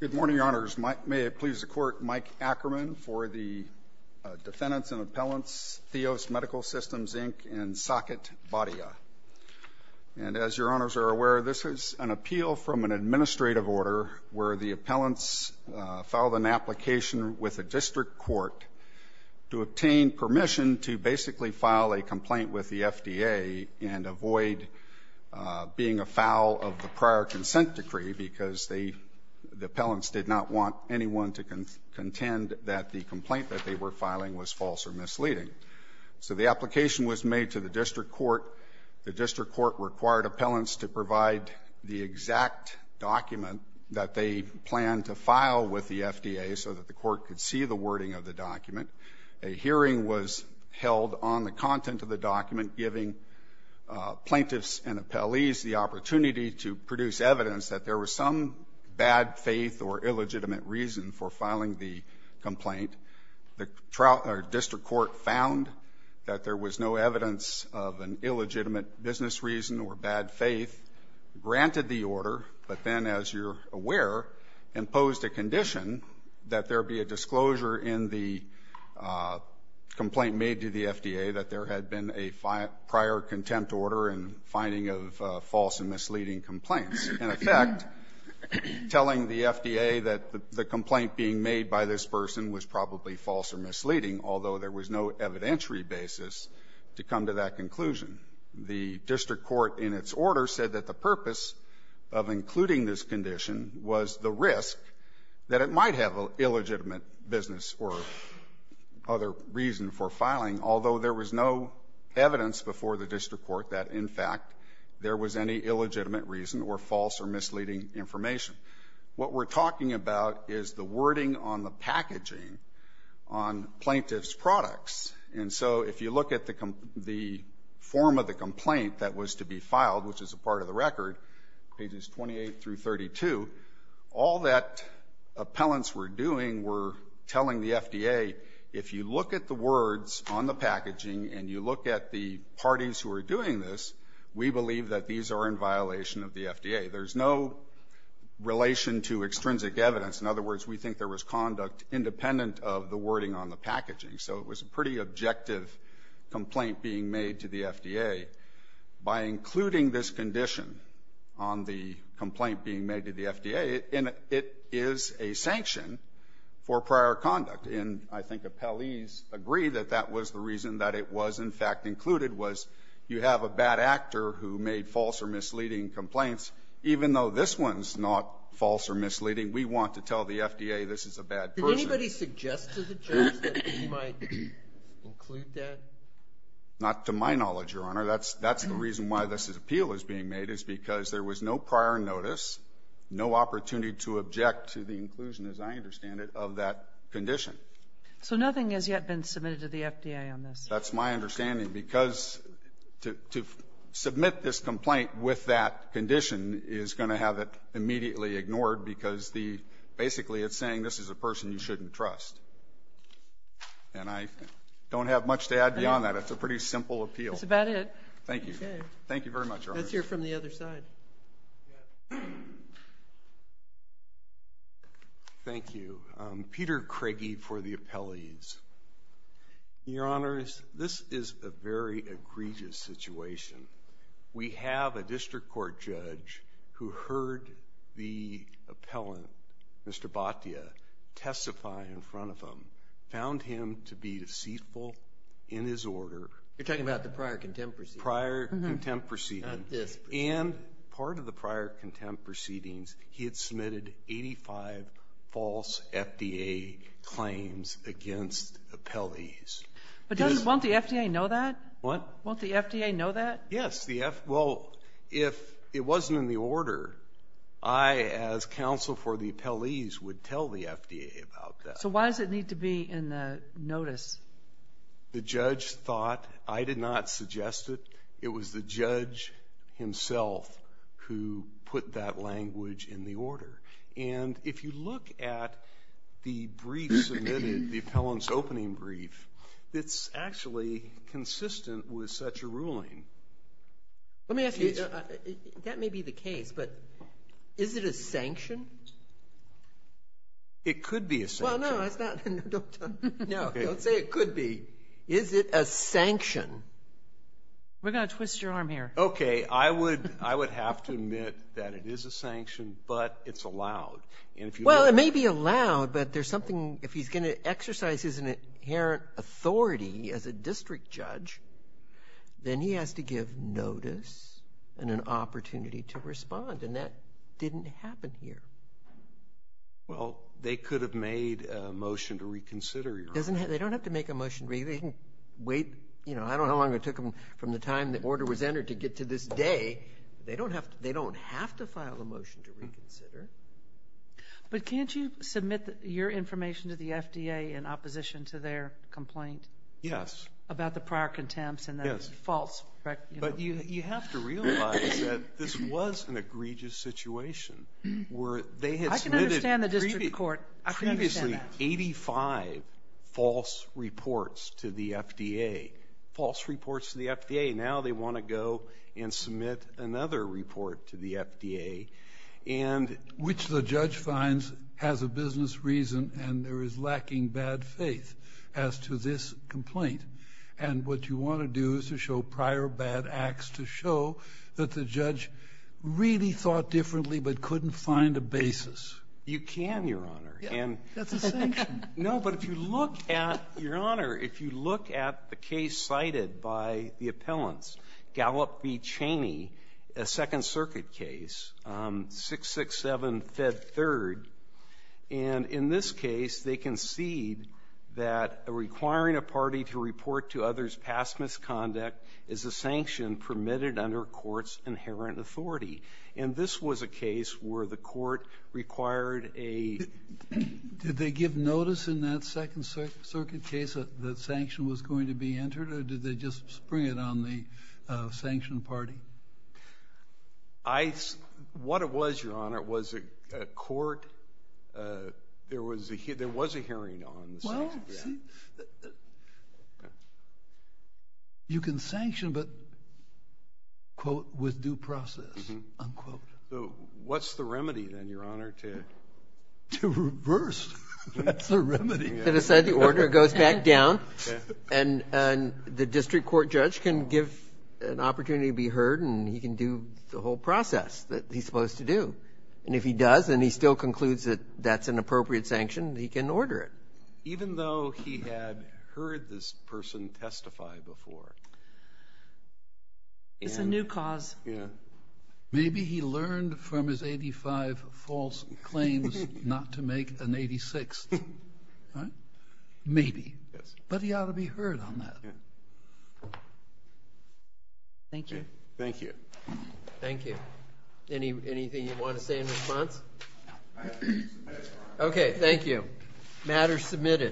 Good morning, Your Honors. May it please the Court, Mike Ackerman for the defendants and appellants, Theos Medical Systems, Inc. and Saket Bhatia. And as Your Honors are aware, this is an appeal from an administrative order where the appellants filed an application with the district court to obtain permission to basically file a complaint with the FDA and avoid being a foul of the prior consent decree because the appellants did not want anyone to contend that the complaint that they were filing was false or misleading. So the application was made to the district court. The district court required appellants to provide the exact document that they planned to file with the FDA so that the court could see the wording of the document. A hearing was held on the content of the document giving plaintiffs and appellees the opportunity to produce evidence that there was some bad faith or illegitimate reason for filing the complaint. The district court found that there was no evidence of an illegitimate business reason or bad faith, granted the order, but then, as you're aware, imposed a condition that there be a disclosure in the complaint made to the FDA that there had been a prior contempt order and finding of false and misleading complaints. In effect, telling the FDA that the complaint being made by this person was probably false or misleading, although there was no evidentiary basis to come to that conclusion. The district court in its order said that the purpose of including this condition was the risk that it might have an illegitimate business or other reason for filing, although there was no evidence before the district court that, in fact, there was any illegitimate reason or false or misleading information. What we're talking about is the wording on the packaging on plaintiff's products. And so if you look at the form of the complaint that was to be filed, which is a part of the record, pages 28 through 32, all that appellants were doing were telling the FDA, if you look at the words on the packaging and you look at the parties who are doing this, we believe that these are in violation of the FDA. There's no relation to extrinsic evidence. In other words, we think there was conduct independent of the wording on the packaging. So it was a pretty objective complaint being made to the FDA. By including this condition on the complaint being made to the FDA, it is a sanction for prior conduct. And I think appellees agree that that was the reason that it was, in fact, included, was you have a bad actor who made false or misleading complaints. Even though this one's not false or misleading, we want to tell the FDA this is a bad person. Did anybody suggest to the judge that he might include that? Not to my knowledge, Your Honor. That's the reason why this appeal is being made, is because there was no prior notice, no opportunity to object to the inclusion, as I understand it, of that condition. So nothing has yet been submitted to the FDA on this? That's my understanding, because to submit this complaint with that condition is going to have it immediately ignored, because the basically it's saying this is a person you shouldn't trust. And I don't have much to add beyond that. It's a pretty simple appeal. That's about it. Thank you. Okay. Thank you very much, Your Honor. Let's hear from the other side. Thank you. Peter Craigie for the appellees. Your Honors, this is a very egregious situation. We have a district court judge who heard the appellant, Mr. Bhatia, testify in front of him, found him to be deceitful in his order. You're talking about the prior contempt proceedings? Prior contempt proceedings. Yes. And part of the prior contempt proceedings, he had submitted 85 false FDA claims against appellees. But doesn't the FDA know that? What? Won't the FDA know that? Yes. Well, if it wasn't in the order, I, as counsel for the appellees, would tell the FDA about that. So why does it need to be in the notice? The judge thought. I did not suggest it. It was the judge himself who put that language in the order. And if you look at the brief submitted, the appellant's opening brief, it's actually consistent with such a ruling. Let me ask you, that may be the case, but is it a sanction? It could be a sanction. Well, no, it's not. No, don't say it could be. Is it a sanction? We're going to twist your arm here. Okay. I would have to admit that it is a sanction, but it's allowed. Well, it may be allowed, but there's something, if he's going to exercise his inherent authority as a district judge, then he has to give notice and an opportunity to respond. And that didn't happen here. Well, they could have made a motion to reconsider your ruling. They don't have to make a motion. They can wait. You know, I don't know how long it took them from the time the order was entered to get to this day. They don't have to file a motion to reconsider. But can't you submit your information to the FDA in opposition to their complaint about the prior contempt and that it's false, correct? But you have to realize that this was an egregious situation where they had submitted previously 85 false reports to the FDA, false reports to the FDA. Now they want to go and submit another report to the FDA and which the judge finds has a business reason and there is lacking bad faith as to this complaint. And what you want to do is to show prior bad acts to show that the judge really thought differently but couldn't find a basis. You can, Your Honor. That's a sanction. No, but if you look at, Your Honor, if you look at the case cited by the appellants, Gallup v. Cheney, a Second Circuit case, 667 Fed 3rd, and in this case, they concede that requiring a party to report to others past misconduct is a sanction permitted under court's inherent authority. And this was a case where the court required a... Did they give notice in that Second Circuit case that sanction was going to be entered or did they just spring it on the sanctioned party? What it was, Your Honor, was a court, there was a hearing on the sanction. You can sanction but, quote, with due process, unquote. So what's the remedy, then, Your Honor, to... To reverse. That's the remedy. To decide the order goes back down and the district court judge can give an opportunity to be heard and he can do the whole process that he's supposed to do. And if he does and he still concludes that that's an appropriate sanction, he can order it. But even though he had heard this person testify before... It's a new cause. Yeah. Maybe he learned from his 85 false claims not to make an 86th, right? Maybe. Yes. But he ought to be heard on that. Thank you. Thank you. Thank you. Anything you want to say in response? Okay. Thank you. Okay.